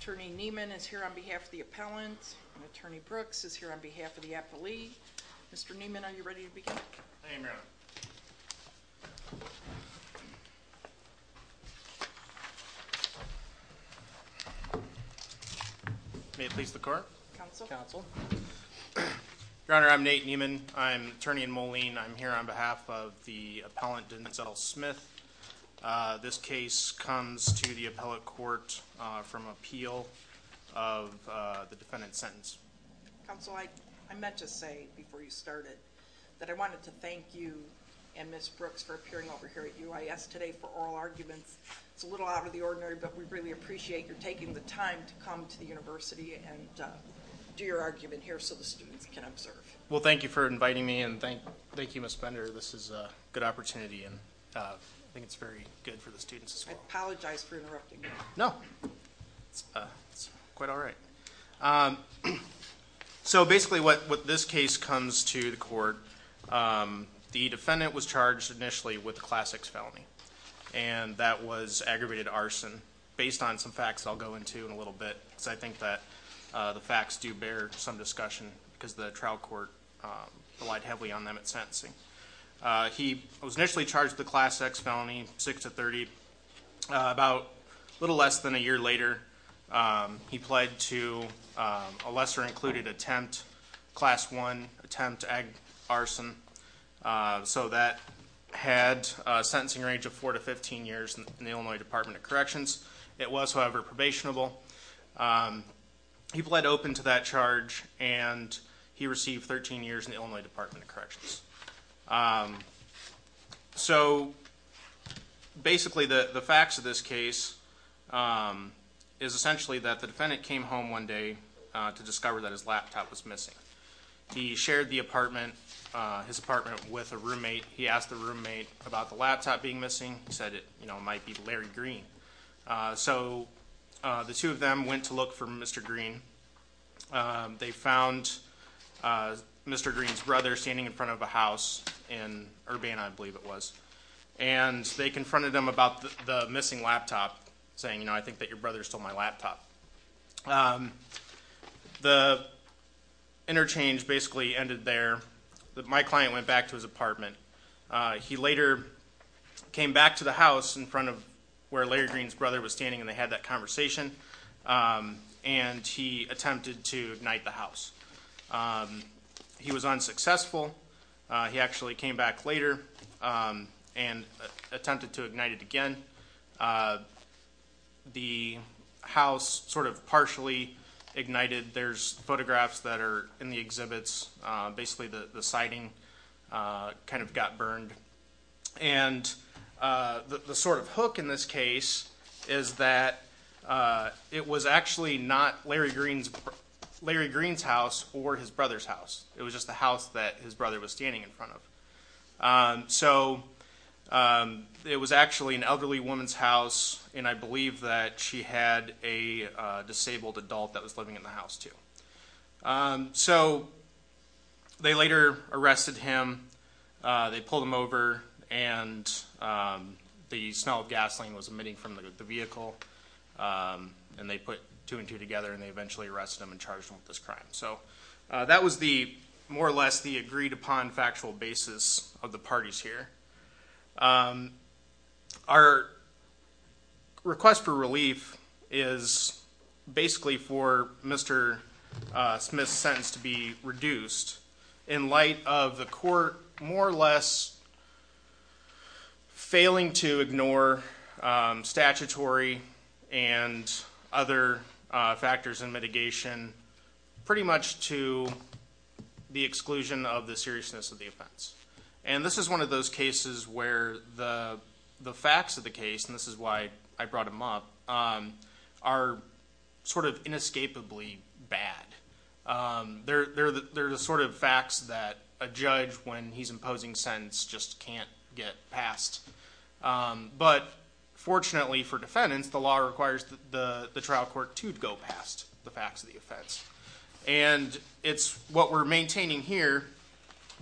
Attorney Neiman is here on behalf of the appellant and Attorney Brooks is here on behalf of the appellant Denzel Smith. This case comes to the appellate court from appeal of the defendant's sentence. Counsel, I meant to say before you started that I wanted to thank you and Miss Brooks for appearing over here at UIS today for oral arguments. It's a little out of the ordinary but we really appreciate your taking the time to come to the University and do your argument here so the students can observe. Well thank you for inviting me and thank you Miss Bender. This is a good opportunity and I think it's very good for the students. I apologize for So basically what this case comes to the court, the defendant was charged initially with a class X felony and that was aggravated arson based on some facts I'll go into in a little bit. I think that the facts do bear some discussion because the trial court relied heavily on them at sentencing. He was initially charged the class X felony 6 to 30. About a little less than a year later he pled to a lesser included attempt class 1 attempt ag arson. So that had a sentencing range of 4 to 15 years in the Illinois Department of Corrections. It was however probationable. He pled open to that charge and he received 13 years in the Illinois Department of Corrections. So basically the facts of this case is essentially that the defendant came home one day to discover that his laptop was missing. He shared the apartment, his apartment, with a roommate. He asked the roommate about the laptop being missing. He said it you know might be Larry Green. So the two of them went to look for Mr. Green. They found Mr. Green's brother standing in front of a house in Urbana I believe it about the missing laptop saying you know I think that your brother stole my laptop. The interchange basically ended there. My client went back to his apartment. He later came back to the house in front of where Larry Green's brother was standing and they had that conversation and he attempted to ignite the house. He was unsuccessful. He actually came back later and attempted to ignite it again. The house sort of partially ignited. There's photographs that are in the exhibits. Basically the the siding kind of got burned and the sort of hook in this case is that it was actually not Larry Green's house or his brother's house. It was just the house that his brother was standing in front of. So it was actually an elderly woman's house and I believe that she had a disabled adult that was living in the house too. So they later arrested him. They pulled him over and the smell of gasoline was emitting from the vehicle and they put two and two together and they eventually arrested him and charged him with this crime. So that was the more or less the agreed upon factual basis of the parties here. Our request for relief is basically for Mr. Smith's sentence to be reduced in light of the court more or less failing to ignore statutory and other factors and mitigation pretty much to the seriousness of the offense. And this is one of those cases where the facts of the case, and this is why I brought him up, are sort of inescapably bad. They're the sort of facts that a judge, when he's imposing sentence, just can't get passed. But fortunately for defendants the law requires the trial court to go past the maintaining here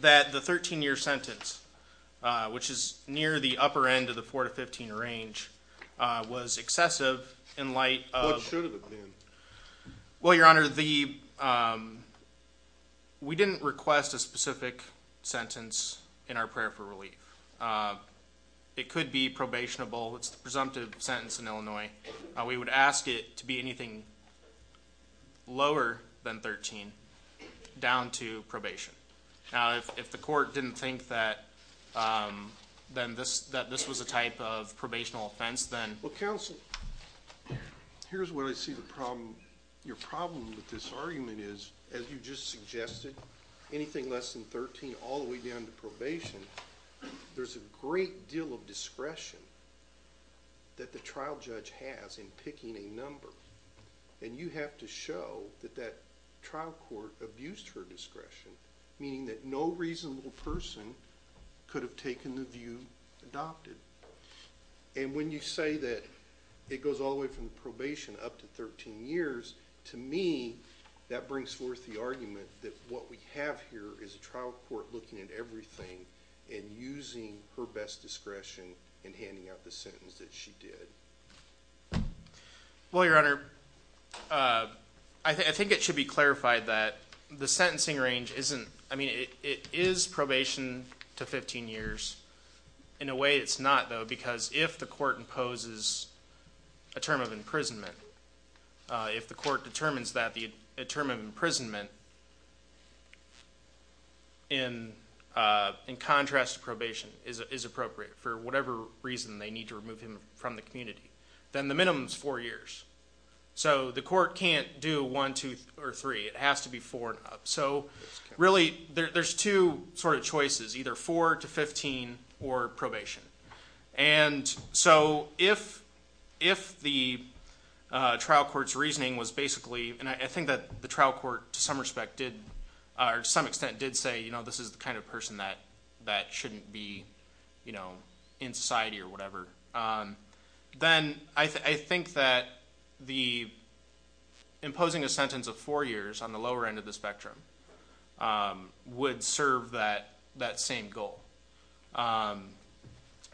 that the 13-year sentence, which is near the upper end of the 4-15 range, was excessive in light of... What should have been? Well, your honor, we didn't request a specific sentence in our prayer for relief. It could be probationable. It's the presumptive sentence in Illinois. We would ask it to be anything lower than 13 down to probation. Now, if the court didn't think that this was a type of probational offense, then... Well, counsel, here's where I see the problem. Your problem with this argument is, as you just suggested, anything less than 13 all the way down to probation, there's a great deal of discretion that the trial judge has in picking a number. And you have to show that that trial court abused her discretion, meaning that no reasonable person could have taken the view adopted. And when you say that it goes all the way from probation up to 13 years, to me, that brings forth the argument that what we have here is a trial court looking at everything and using her best discretion in handing out the sentence that she did. Well, your honor, I think it should be clarified that the sentencing range isn't... I mean, it is probation to 15 years. In a way, it's not, though, because if the court imposes a term of imprisonment, if the court determines that a term of imprisonment, in contrast to probation, is appropriate for whatever reason they need to remove him from the community. Then the minimum is four years. So the court can't do one, two, or three. It has to be four and up. So really, there's two sort of choices, either four to 15 or probation. And so if the trial court's reasoning was basically, and I think that the trial court, to some extent, did say, you know, this is the kind of person that shouldn't be in society or whatever, then I think that imposing a sentence of four years on the lower end of the spectrum would serve that same goal.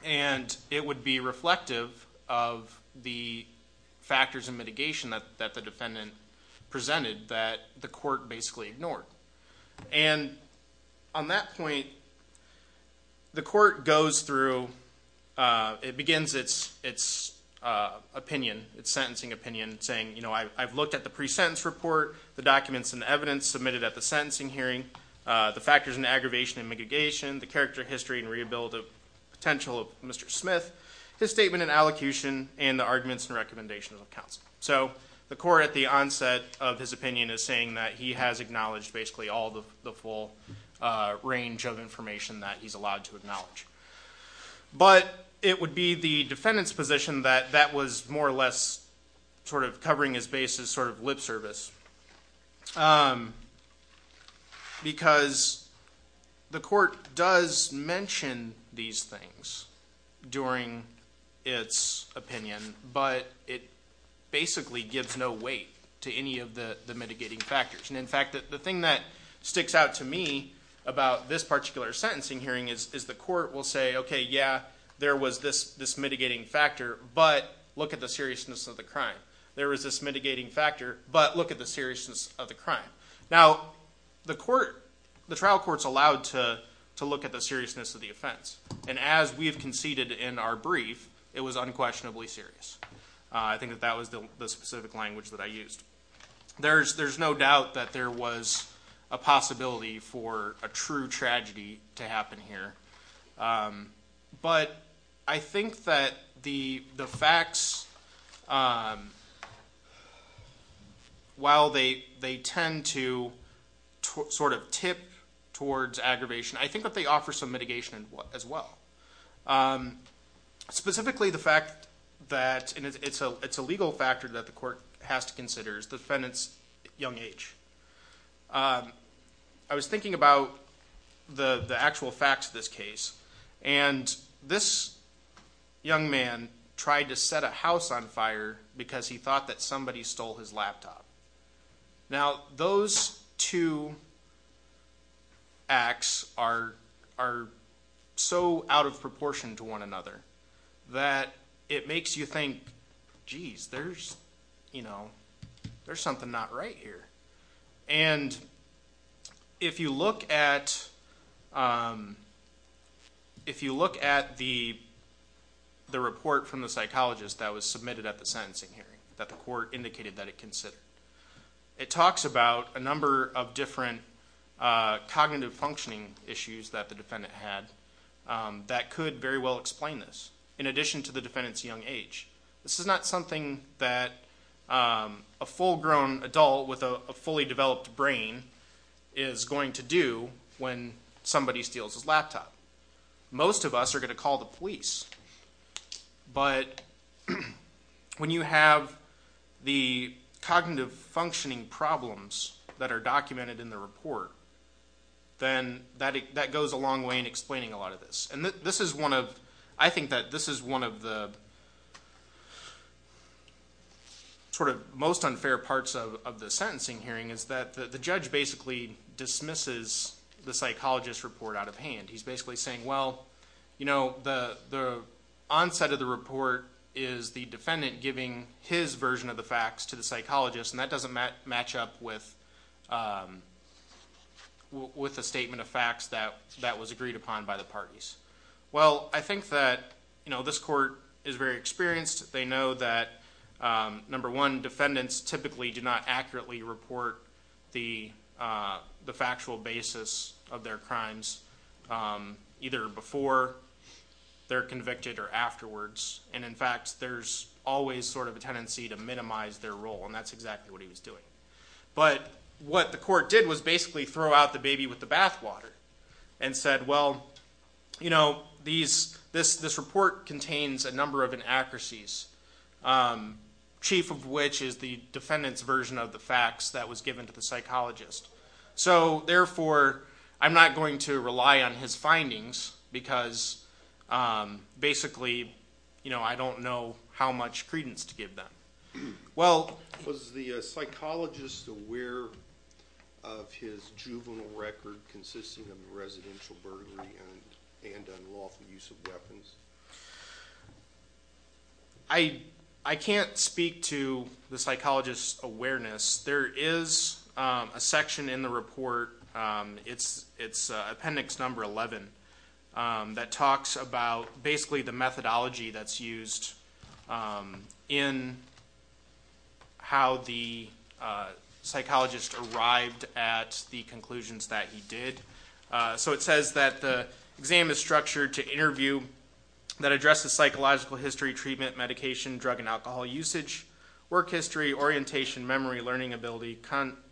And it would be reflective of the factors of mitigation that the defendant presented that the court basically ignored. And on that point, the court goes through, it begins its opinion, its sentencing opinion, saying, you know, I've looked at the pre-sentence report, the documents and evidence submitted at the sentencing hearing, the factors and aggravation and mitigation, the character, history, and rehabilitative potential of Mr. Smith, his statement and allocution, and the arguments and recommendations of counsel. So the court, at the onset of his opinion, is saying that he has acknowledged basically all the full range of information that he's allowed to acknowledge. But it would be the defendant's position that that was more or less sort of covering his base as sort of lip service. Because the court does mention these things during its opinion, but it basically gives no weight to any of the mitigating factors. In fact, the thing that sticks out to me about this particular sentencing hearing is the court will say, okay, yeah, there was this mitigating factor, but look at the seriousness of the crime. There was this mitigating factor, but look at the seriousness of the crime. Now, the trial court's allowed to look at the seriousness of the offense. And as we have conceded in our brief, it was unquestionably serious. I think that that was the specific language that I used. There's no doubt that there was a possibility for a true tragedy to happen here. But I think that the facts, while they tend to sort of tip towards aggravation, I think that they offer some mitigation as well. Specifically, the fact that it's a legal factor that the court has to consider is the defendant's young age. I was thinking about the actual facts of this case. And this young man tried to set a house on fire because he thought that somebody stole his laptop. Now, those two acts are so out of proportion to one another that it makes you think, geez, there's something not right here. And if you look at the report from the psychologist that was submitted at the sentencing hearing, that the court indicated that it considered, it talks about a number of different cognitive functioning issues that the defendant had that could very well explain this, in addition to the defendant's young age. This is not something that a full-grown adult with a fully developed brain is going to do when somebody steals his laptop. Most of us are going to call the police. But when you have the cognitive functioning problems that are documented in the report, then that goes a long way in explaining a lot of this. I think that this is one of the most unfair parts of the sentencing hearing, is that the judge basically dismisses the psychologist's report out of hand. He's basically saying, well, the onset of the report is the defendant giving his version of the facts to the psychologist, and that doesn't match up with a statement of facts that was agreed upon by the parties. Well, I think that this court is very experienced. They know that, number one, defendants typically do not accurately report the factual basis of their crimes, either before they're convicted or afterwards. In fact, there's always sort of a tendency to minimize their role, and that's exactly what he was doing. But what the court did was basically throw out the baby with the bathwater and said, well, this report contains a number of inaccuracies, chief of which is the defendant's version of the facts that was given to the psychologist. So therefore, I'm not going to rely on his findings, because basically I don't know how much credence to give them. Was the psychologist aware of his juvenile record consisting of residential burglary and unlawful use of weapons? I can't speak to the psychologist's awareness. There is a section in the report, it's appendix number 11, that talks about basically the methodology that's used in how the psychologist arrived at the conclusions that he did. So it says that the exam is structured to interview that addresses psychological history, treatment, medication, drug and alcohol usage, work history, orientation, memory, learning ability,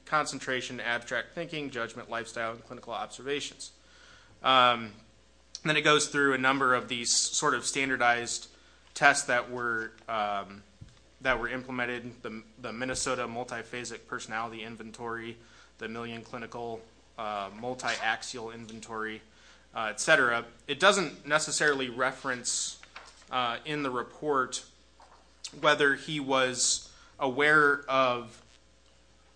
concentration, abstract thinking, judgment, lifestyle, and clinical observations. Then it goes through a number of these sort of standardized tests that were implemented, the Minnesota Multiphasic Personality Inventory, the Million Clinical Multiaxial Inventory, et cetera. It doesn't necessarily reference in the report whether he was aware of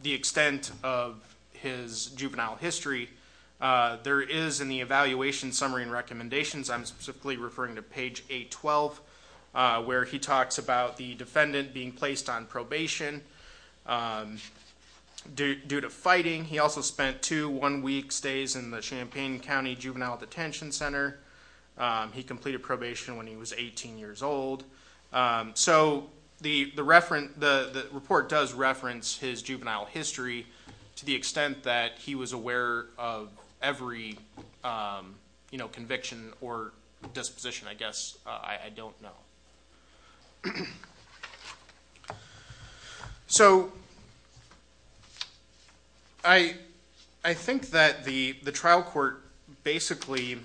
the extent of his juvenile history. There is in the evaluation summary and recommendations, I'm specifically referring to page 812, where he talks about the defendant being placed on probation due to fighting. He also spent two one-week stays in the Champaign County Juvenile Detention Center. He completed probation when he was 18 years old. So the report does reference his juvenile history to the extent that he was aware of every conviction or disposition, I guess. I don't know. So I think that the trial court basically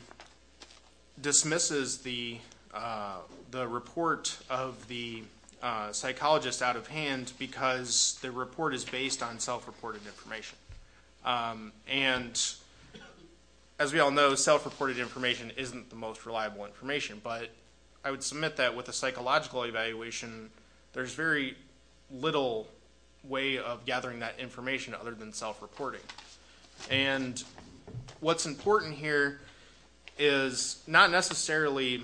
dismisses the report of the psychologist out of hand because the report is based on self-reported information. And as we all know, self-reported information isn't the most reliable information. But I would submit that with a psychological evaluation, there's very little way of gathering that information other than self-reporting. And what's important here is not necessarily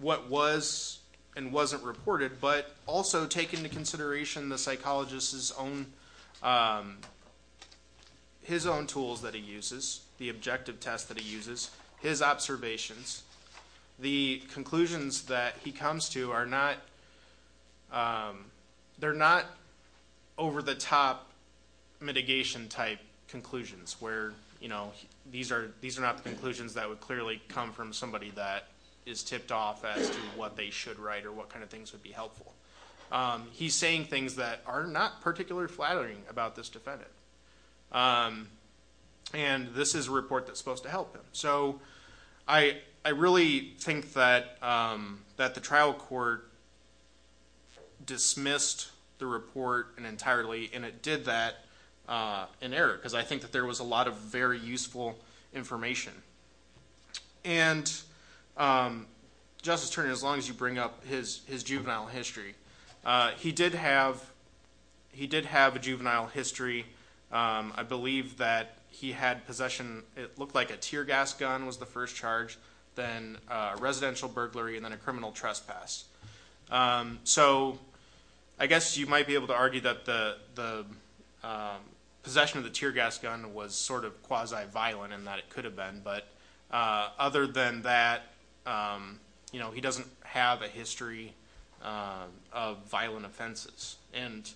what was and wasn't reported, but also take into consideration the psychologist's own, his own tools that he uses, the objective test that he uses, his observations. The conclusions that he comes to are not, they're not over-the-top mitigation type conclusions where, you know, these are not the conclusions that would clearly come from somebody that is tipped off as to what they should write or what kind of things would be helpful. He's saying things that are not particularly flattering about this defendant. And this is a report that's supposed to help him. So I really think that the trial court dismissed the report entirely, and it did that in error because I think that there was a lot of very useful information. And Justice Turner, as long as you bring up his juvenile history, he did have a juvenile history. I believe that he had possession, it looked like a tear gas gun was the first charge, then a residential burglary, and then a criminal trespass. So I guess you might be able to argue that the possession of the tear gas gun was sort of quasi-violent in that it could have been. But other than that, you know, he doesn't have a history of violent offenses. And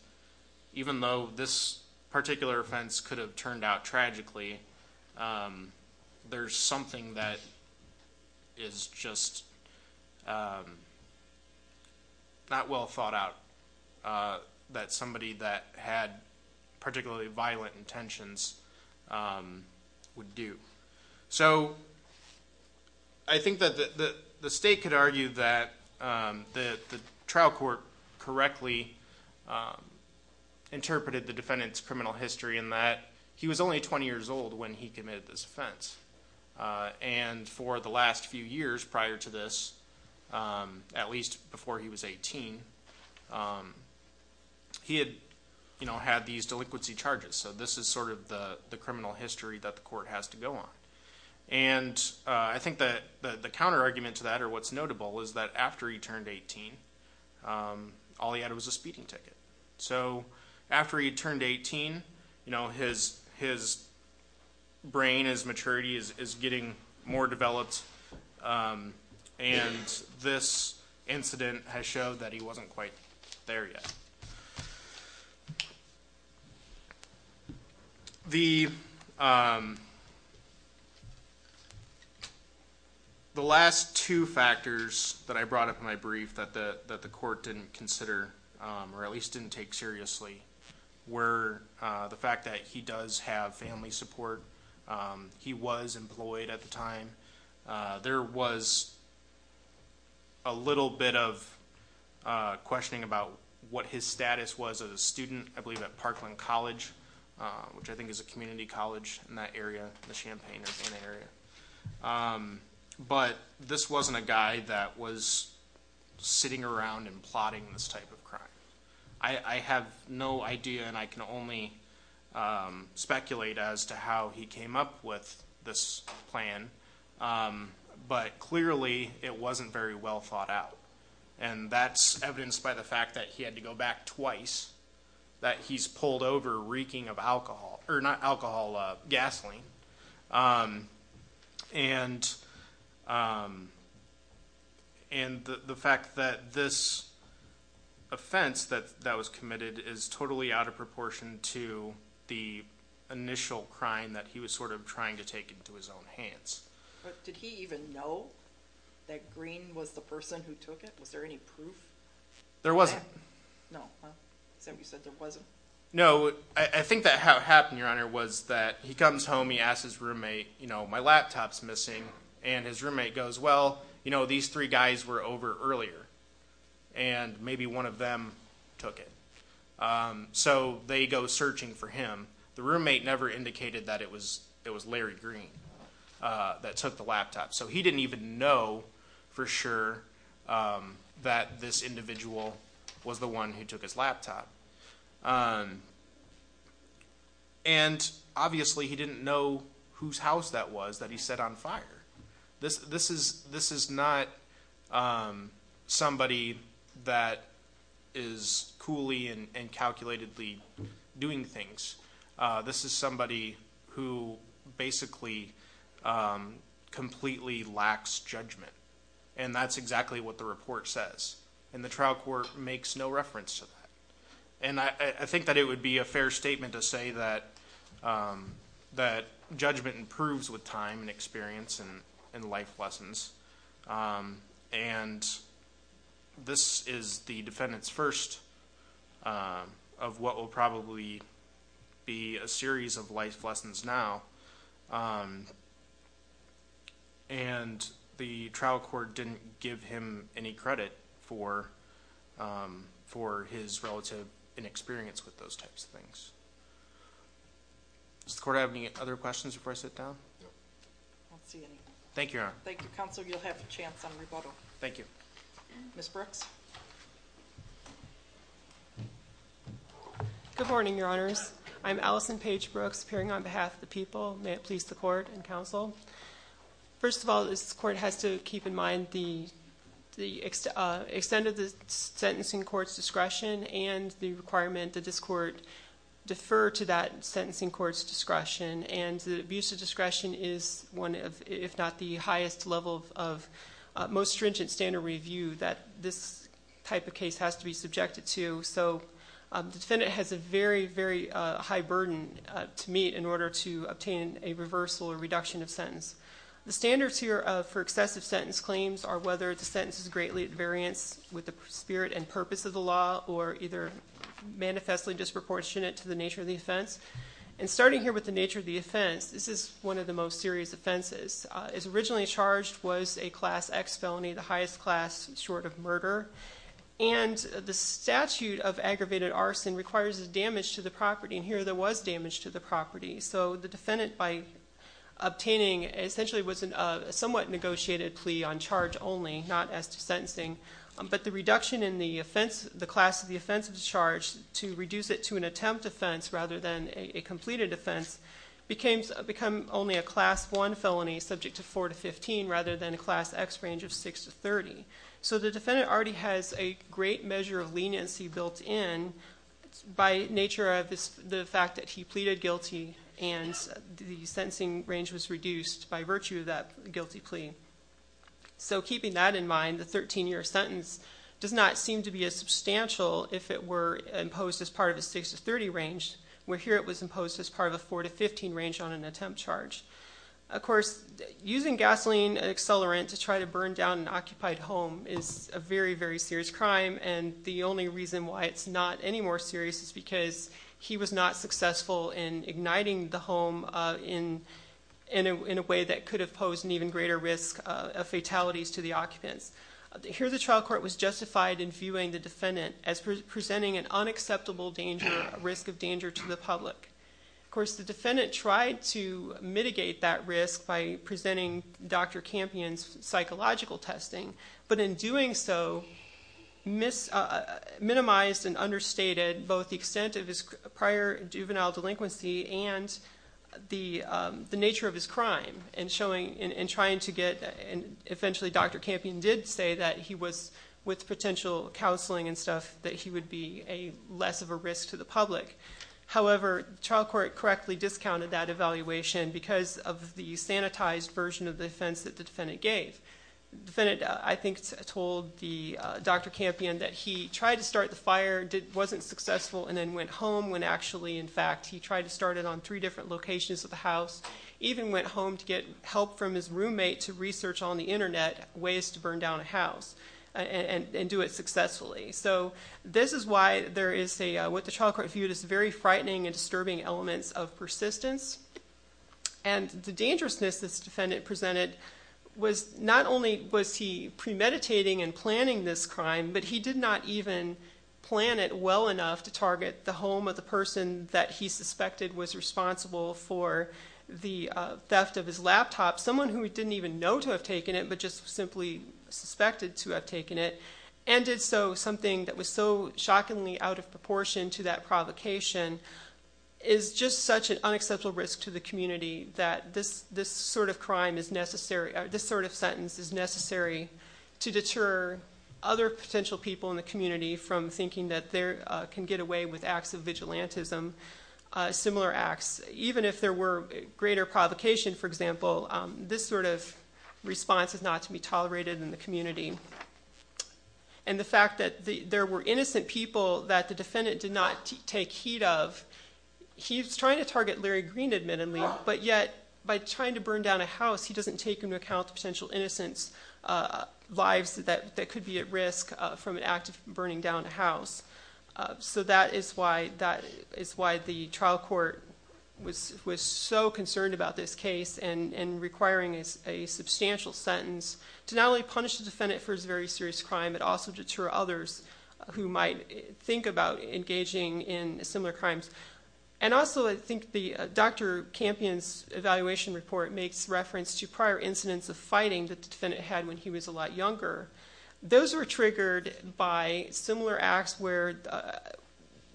even though this particular offense could have turned out tragically, there's something that is just not well thought out that somebody that had particularly violent intentions would do. So I think that the state could argue that the trial court correctly interpreted the defendant's criminal history in that he was only 20 years old when he committed this offense. And for the last few years prior to this, at least before he was 18, he had, you know, had these delinquency charges. So this is sort of the criminal history that the court has to go on. And I think that the counterargument to that, or what's notable, is that after he turned 18, all he had was a speeding ticket. So after he turned 18, you know, his brain, his maturity is getting more developed. And this incident has showed that he wasn't quite there yet. The last two factors that I brought up in my brief that the court didn't consider, or at least didn't take seriously, were the fact that he does have family support. He was employed at the time. There was a little bit of questioning about what his status was as a student, I believe at Parkland College, which I think is a community college in that area, the Champaign-Urbana area. But this wasn't a guy that was sitting around and plotting this type of crime. I have no idea, and I can only speculate as to how he came up with this plan, but clearly it wasn't very well thought out. And that's evidenced by the fact that he had to go back twice that he's pulled over reeking of alcohol, or not alcohol, gasoline. And the fact that this offense that was committed is totally out of proportion to the initial crime that he was sort of trying to take into his own hands. But did he even know that Green was the person who took it? Was there any proof? There wasn't. No. Is that what you said, there wasn't? No, I think that how it happened, Your Honor, was that he comes home, he asks his roommate, you know, my laptop's missing. And his roommate goes, well, you know, these three guys were over earlier, and maybe one of them took it. So they go searching for him. The roommate never indicated that it was Larry Green that took the laptop. So he didn't even know for sure that this individual was the one who took his laptop. And obviously he didn't know whose house that was that he set on fire. This is not somebody that is coolly and calculatedly doing things. This is somebody who basically completely lacks judgment. And that's exactly what the report says. And the trial court makes no reference to that. And I think that it would be a fair statement to say that judgment improves with time and experience and life lessons. And this is the defendant's first of what will probably be a series of life lessons now. And the trial court didn't give him any credit for his relative inexperience with those types of things. Does the court have any other questions before I sit down? No, I don't see any. Thank you, Your Honor. Thank you, Counsel. You'll have a chance on rebuttal. Thank you. Ms. Brooks. Good morning, Your Honors. I'm Allison Paige Brooks, appearing on behalf of the people. May it please the court and counsel. First of all, this court has to keep in mind the extent of the sentencing court's discretion and the requirement that this court defer to that sentencing court's discretion. And the abuse of discretion is one of, if not the highest level of most stringent standard review that this type of case has to be subjected to. So the defendant has a very, very high burden to meet in order to obtain a reversal or reduction of sentence. The standards here for excessive sentence claims are whether the sentence is greatly at variance with the spirit and purpose of the law or either manifestly disproportionate to the nature of the offense. And starting here with the nature of the offense, this is one of the most serious offenses. It's originally charged was a Class X felony, the highest class, short of murder. And the statute of aggravated arson requires damage to the property, and here there was damage to the property. So the defendant, by obtaining, essentially was a somewhat negotiated plea on charge only, not as to sentencing. But the reduction in the offense, the class of the offense of the charge, to reduce it to an attempt offense rather than a completed offense, becomes only a Class I felony subject to 4 to 15 rather than a Class X range of 6 to 30. So the defendant already has a great measure of leniency built in by nature of the fact that he pleaded guilty and the sentencing range was reduced by virtue of that guilty plea. So keeping that in mind, the 13-year sentence does not seem to be as substantial if it were imposed as part of a 6 to 30 range, where here it was imposed as part of a 4 to 15 range on an attempt charge. Of course, using gasoline accelerant to try to burn down an occupied home is a very, very serious crime, and the only reason why it's not any more serious is because he was not successful in igniting the home in a way that could have posed an even greater risk of fatalities to the occupants. Here the trial court was justified in viewing the defendant as presenting an unacceptable danger, a risk of danger to the public. Of course, the defendant tried to mitigate that risk by presenting Dr. Campion's psychological testing, but in doing so, minimized and understated both the extent of his prior juvenile delinquency and the nature of his crime in trying to get... And eventually Dr. Campion did say that he was, with potential counseling and stuff, that he would be less of a risk to the public. However, the trial court correctly discounted that evaluation because of the sanitized version of the offense that the defendant gave. The defendant, I think, told Dr. Campion that he tried to start the fire, wasn't successful, and then went home when actually, in fact, he tried to start it on three different locations of the house, even went home to get help from his roommate to research on the Internet ways to burn down a house and do it successfully. So this is why there is what the trial court viewed as very frightening and disturbing elements of persistence. And the dangerousness this defendant presented was not only was he premeditating and planning this crime, but he did not even plan it well enough to target the home of the person that he suspected was responsible for the theft of his laptop, someone who he didn't even know to have taken it, but just simply suspected to have taken it, and did so something that was so shockingly out of proportion to that provocation, is just such an unacceptable risk to the community that this sort of crime is necessary, this sort of sentence is necessary to deter other potential people in the community from thinking that they can get away with acts of vigilantism, similar acts. Even if there were greater provocation, for example, this sort of response is not to be tolerated in the community. And the fact that there were innocent people that the defendant did not take heed of, he's trying to target Larry Green, admittedly, but yet by trying to burn down a house, he doesn't take into account the potential innocent's lives that could be at risk from an act of burning down a house. So that is why the trial court was so concerned about this case and requiring a substantial sentence to not only punish the defendant for his very serious crime, but also deter others who might think about engaging in similar crimes. And also, I think, Dr. Campion's evaluation report makes reference to prior incidents of fighting that the defendant had when he was a lot younger. Those were triggered by similar acts where...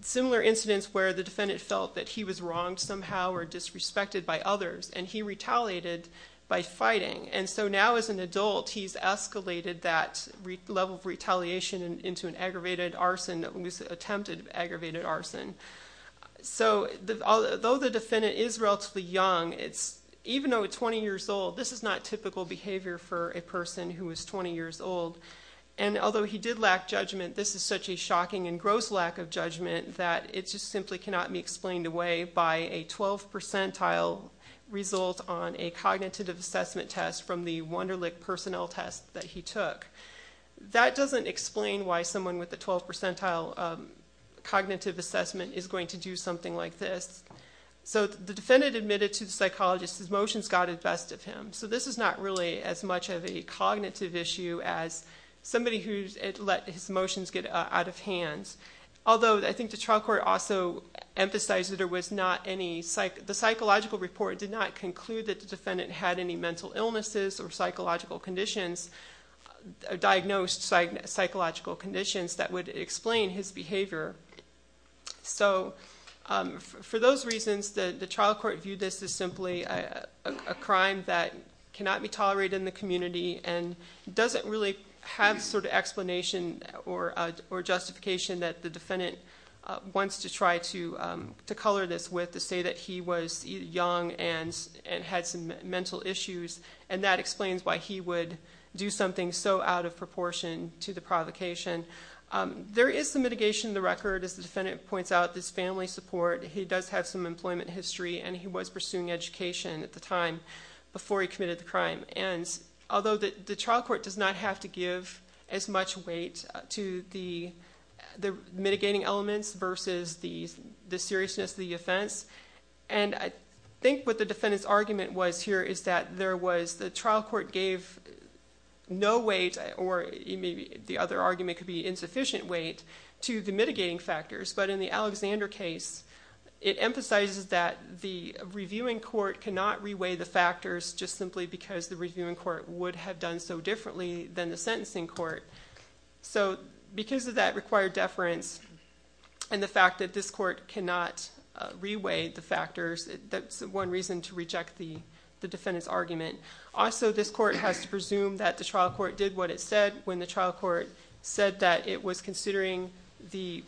similar incidents where the defendant felt that he was wronged somehow or disrespected by others, and he retaliated by fighting. And so now as an adult, he's escalated that level of retaliation into an aggravated arson, an attempted aggravated arson. So though the defendant is relatively young, it's...even though it's 20 years old, this is not typical behavior for a person who is 20 years old. And although he did lack judgment, this is such a shocking and gross lack of judgment that it just simply cannot be explained away by a 12-percentile result on a cognitive assessment test from the Wunderlich personnel test that he took. That doesn't explain why someone with a 12-percentile cognitive assessment is going to do something like this. So the defendant admitted to the psychologist his emotions got the best of him. So this is not really as much of a cognitive issue as somebody who's let his emotions get out of hand. Although I think the trial court also emphasized that there was not any... the psychological report did not conclude that the defendant had any mental illnesses or psychological conditions, diagnosed psychological conditions that would explain his behavior. So for those reasons, the trial court viewed this as simply a crime that cannot be tolerated in the community and doesn't really have sort of explanation or justification that the defendant wants to try to color this with to say that he was young and had some mental issues, and that explains why he would do something so out of proportion to the provocation. There is some mitigation in the record. As the defendant points out, this family support, he does have some employment history and he was pursuing education at the time before he committed the crime. And although the trial court does not have to give as much weight to the mitigating elements versus the seriousness of the offense, and I think what the defendant's argument was here is that there was... the trial court gave no weight or maybe the other argument could be insufficient weight to the mitigating factors, but in the Alexander case, it emphasizes that the reviewing court cannot reweigh the factors just simply because the reviewing court would have done so differently than the sentencing court. So because of that required deference, and the fact that this court cannot reweigh the factors, that's one reason to reject the defendant's argument. Also, this court has to presume that the trial court did what it said when the trial court said that it was considering the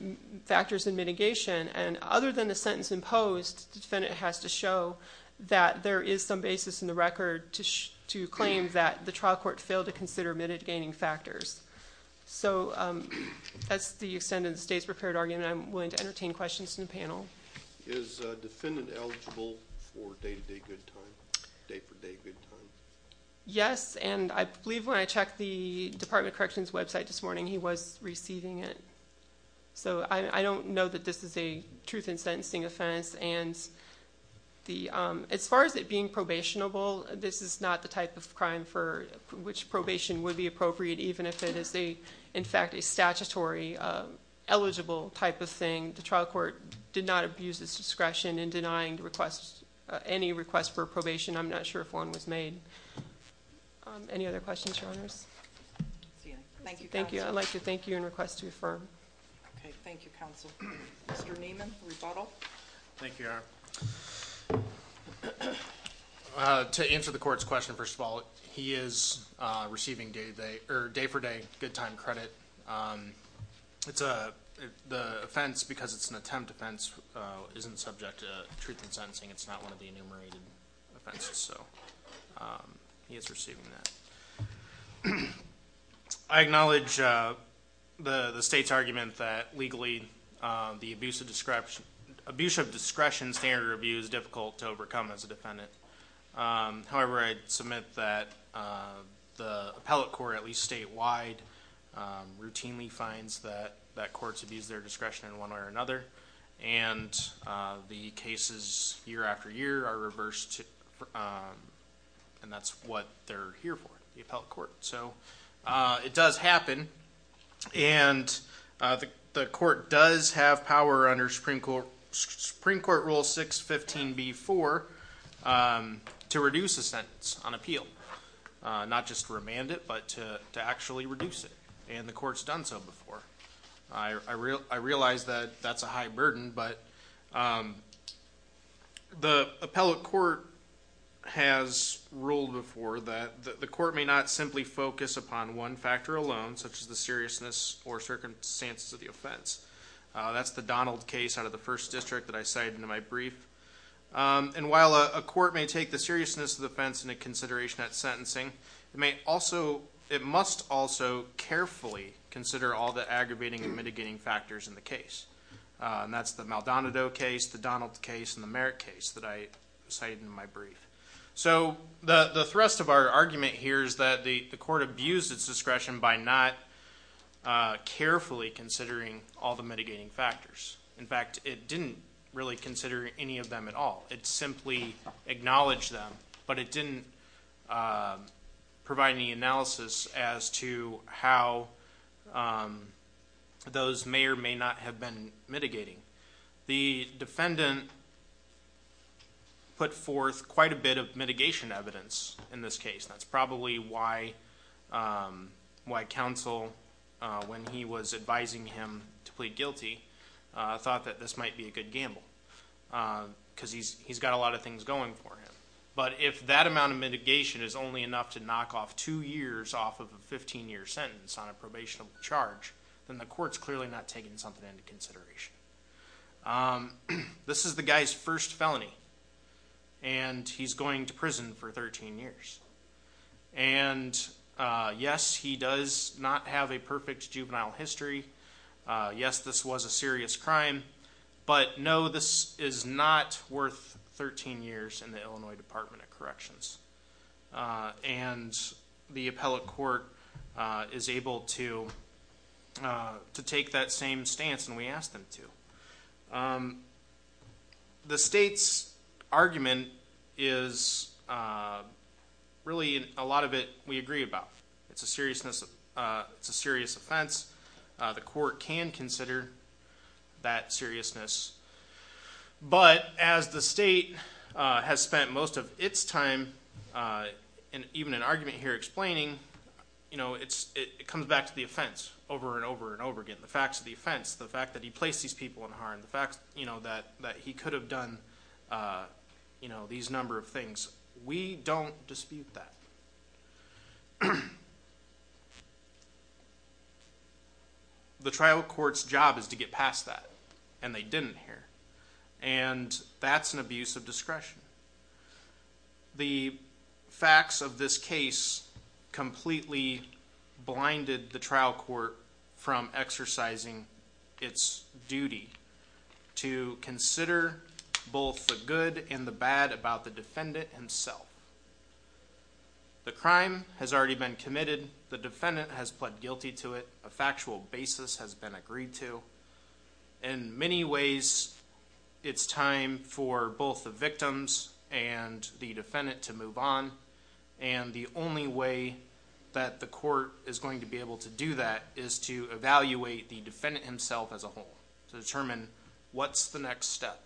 factors in mitigation, and other than the sentence imposed, the defendant has to show that there is some basis in the record to claim that the trial court failed to consider mitigating factors. So that's the extent of the state's prepared argument. I'm willing to entertain questions from the panel. Is a defendant eligible for day-to-day good time, day-for-day good time? Yes, and I believe when I checked the Department of Corrections website this morning, he was receiving it. So I don't know that this is a truth in sentencing offense, and as far as it being probationable, this is not the type of crime for which probation would be appropriate, even if it is, in fact, a statutory eligible type of thing. The trial court did not abuse its discretion in denying any request for probation. I'm not sure if one was made. Any other questions, Your Honors? Thank you, counsel. I'd like to thank you and request to affirm. Okay, thank you, counsel. Mr. Neiman, rebuttal. Thank you, Your Honor. To answer the court's question, first of all, he is receiving day-for-day good time credit. The offense, because it's an attempt offense, isn't subject to truth in sentencing. It's not one of the enumerated offenses, so he is receiving that. I acknowledge the state's argument that legally the abuse of discretion, standard of abuse, is difficult to overcome as a defendant. However, I'd submit that the appellate court, at least statewide, routinely finds that courts abuse their discretion in one way or another, and the cases year after year are reversed, and that's what they're here for, the appellate court. So it does happen, and the court does have power under Supreme Court Rule 615b-4 to reduce a sentence on appeal. Not just remand it, but to actually reduce it, and the court's done so before. I realize that that's a high burden, but the appellate court has ruled before that the court may not simply focus upon one factor alone, such as the seriousness or circumstances of the offense. That's the Donald case out of the 1st District that I cited in my brief. And while a court may take the seriousness of the offense into consideration at sentencing, it must also carefully consider all the aggravating and mitigating factors in the case. And that's the Maldonado case, the Donald case, and the Merritt case that I cited in my brief. So the thrust of our argument here is that the court abused its discretion by not carefully considering all the mitigating factors. In fact, it didn't really consider any of them at all. It simply acknowledged them, but it didn't provide any analysis as to how those may or may not have been mitigating. The defendant put forth quite a bit of mitigation evidence in this case. That's probably why counsel, when he was advising him to plead guilty, thought that this might be a good gamble, because he's got a lot of things going for him. But if that amount of mitigation is only enough to knock off two years off of a 15-year sentence on a probationable charge, then the court's clearly not taking something into consideration. This is the guy's first felony, and he's going to prison for 13 years. And yes, he does not have a perfect juvenile history. Yes, this was a serious crime. But no, this is not worth 13 years in the Illinois Department of Corrections. And the appellate court is able to take that same stance, and we asked them to. The state's argument is really a lot of it we agree about. It's a serious offense. The court can consider that seriousness. But as the state has spent most of its time, even in argument here explaining, it comes back to the offense over and over and over again. The facts of the offense, the fact that he placed these people in harm, the fact that he could have done these number of things. We don't dispute that. The trial court's job is to get past that, and they didn't here. And that's an abuse of discretion. The facts of this case completely blinded the trial court from exercising its duty to consider both the good and the bad about the defendant himself. The crime has already been committed. The defendant has pled guilty to it. A factual basis has been agreed to. In many ways, it's time for both the victims and the defendant to move on. And the only way that the court is going to be able to do that is to evaluate the defendant himself as a whole to determine what's the next step.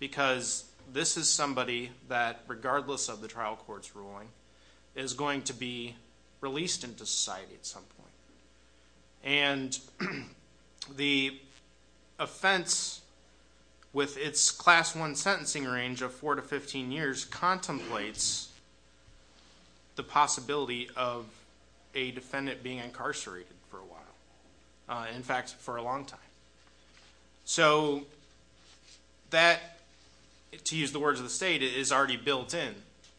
Because this is somebody that, regardless of the trial court's ruling, is going to be released into society at some point. And the offense, with its Class I sentencing range of 4 to 15 years, contemplates the possibility of a defendant being incarcerated for a while. In fact, for a long time. So that, to use the words of the state, is already built in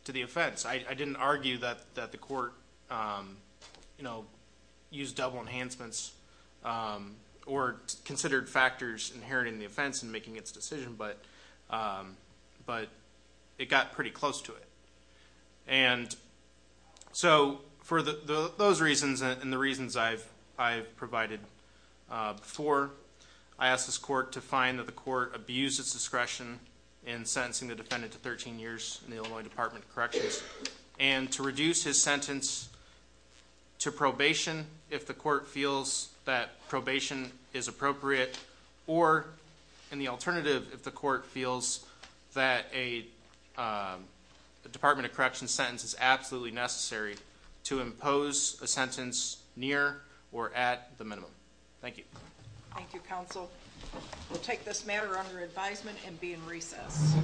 to the offense. I didn't argue that the court, you know, used double enhancements or considered factors inherent in the offense in making its decision, but it got pretty close to it. And so, for those reasons and the reasons I've provided before, I asked this court to find that the court abused its discretion in sentencing the defendant to 13 years in the Illinois Department of Corrections and to reduce his sentence to probation if the court feels that probation is appropriate or, in the alternative, if the court feels that a Department of Corrections sentence is absolutely necessary to impose a sentence near or at the minimum. Thank you. Thank you, counsel. We'll take this matter under advisement and be in recess. Thank you.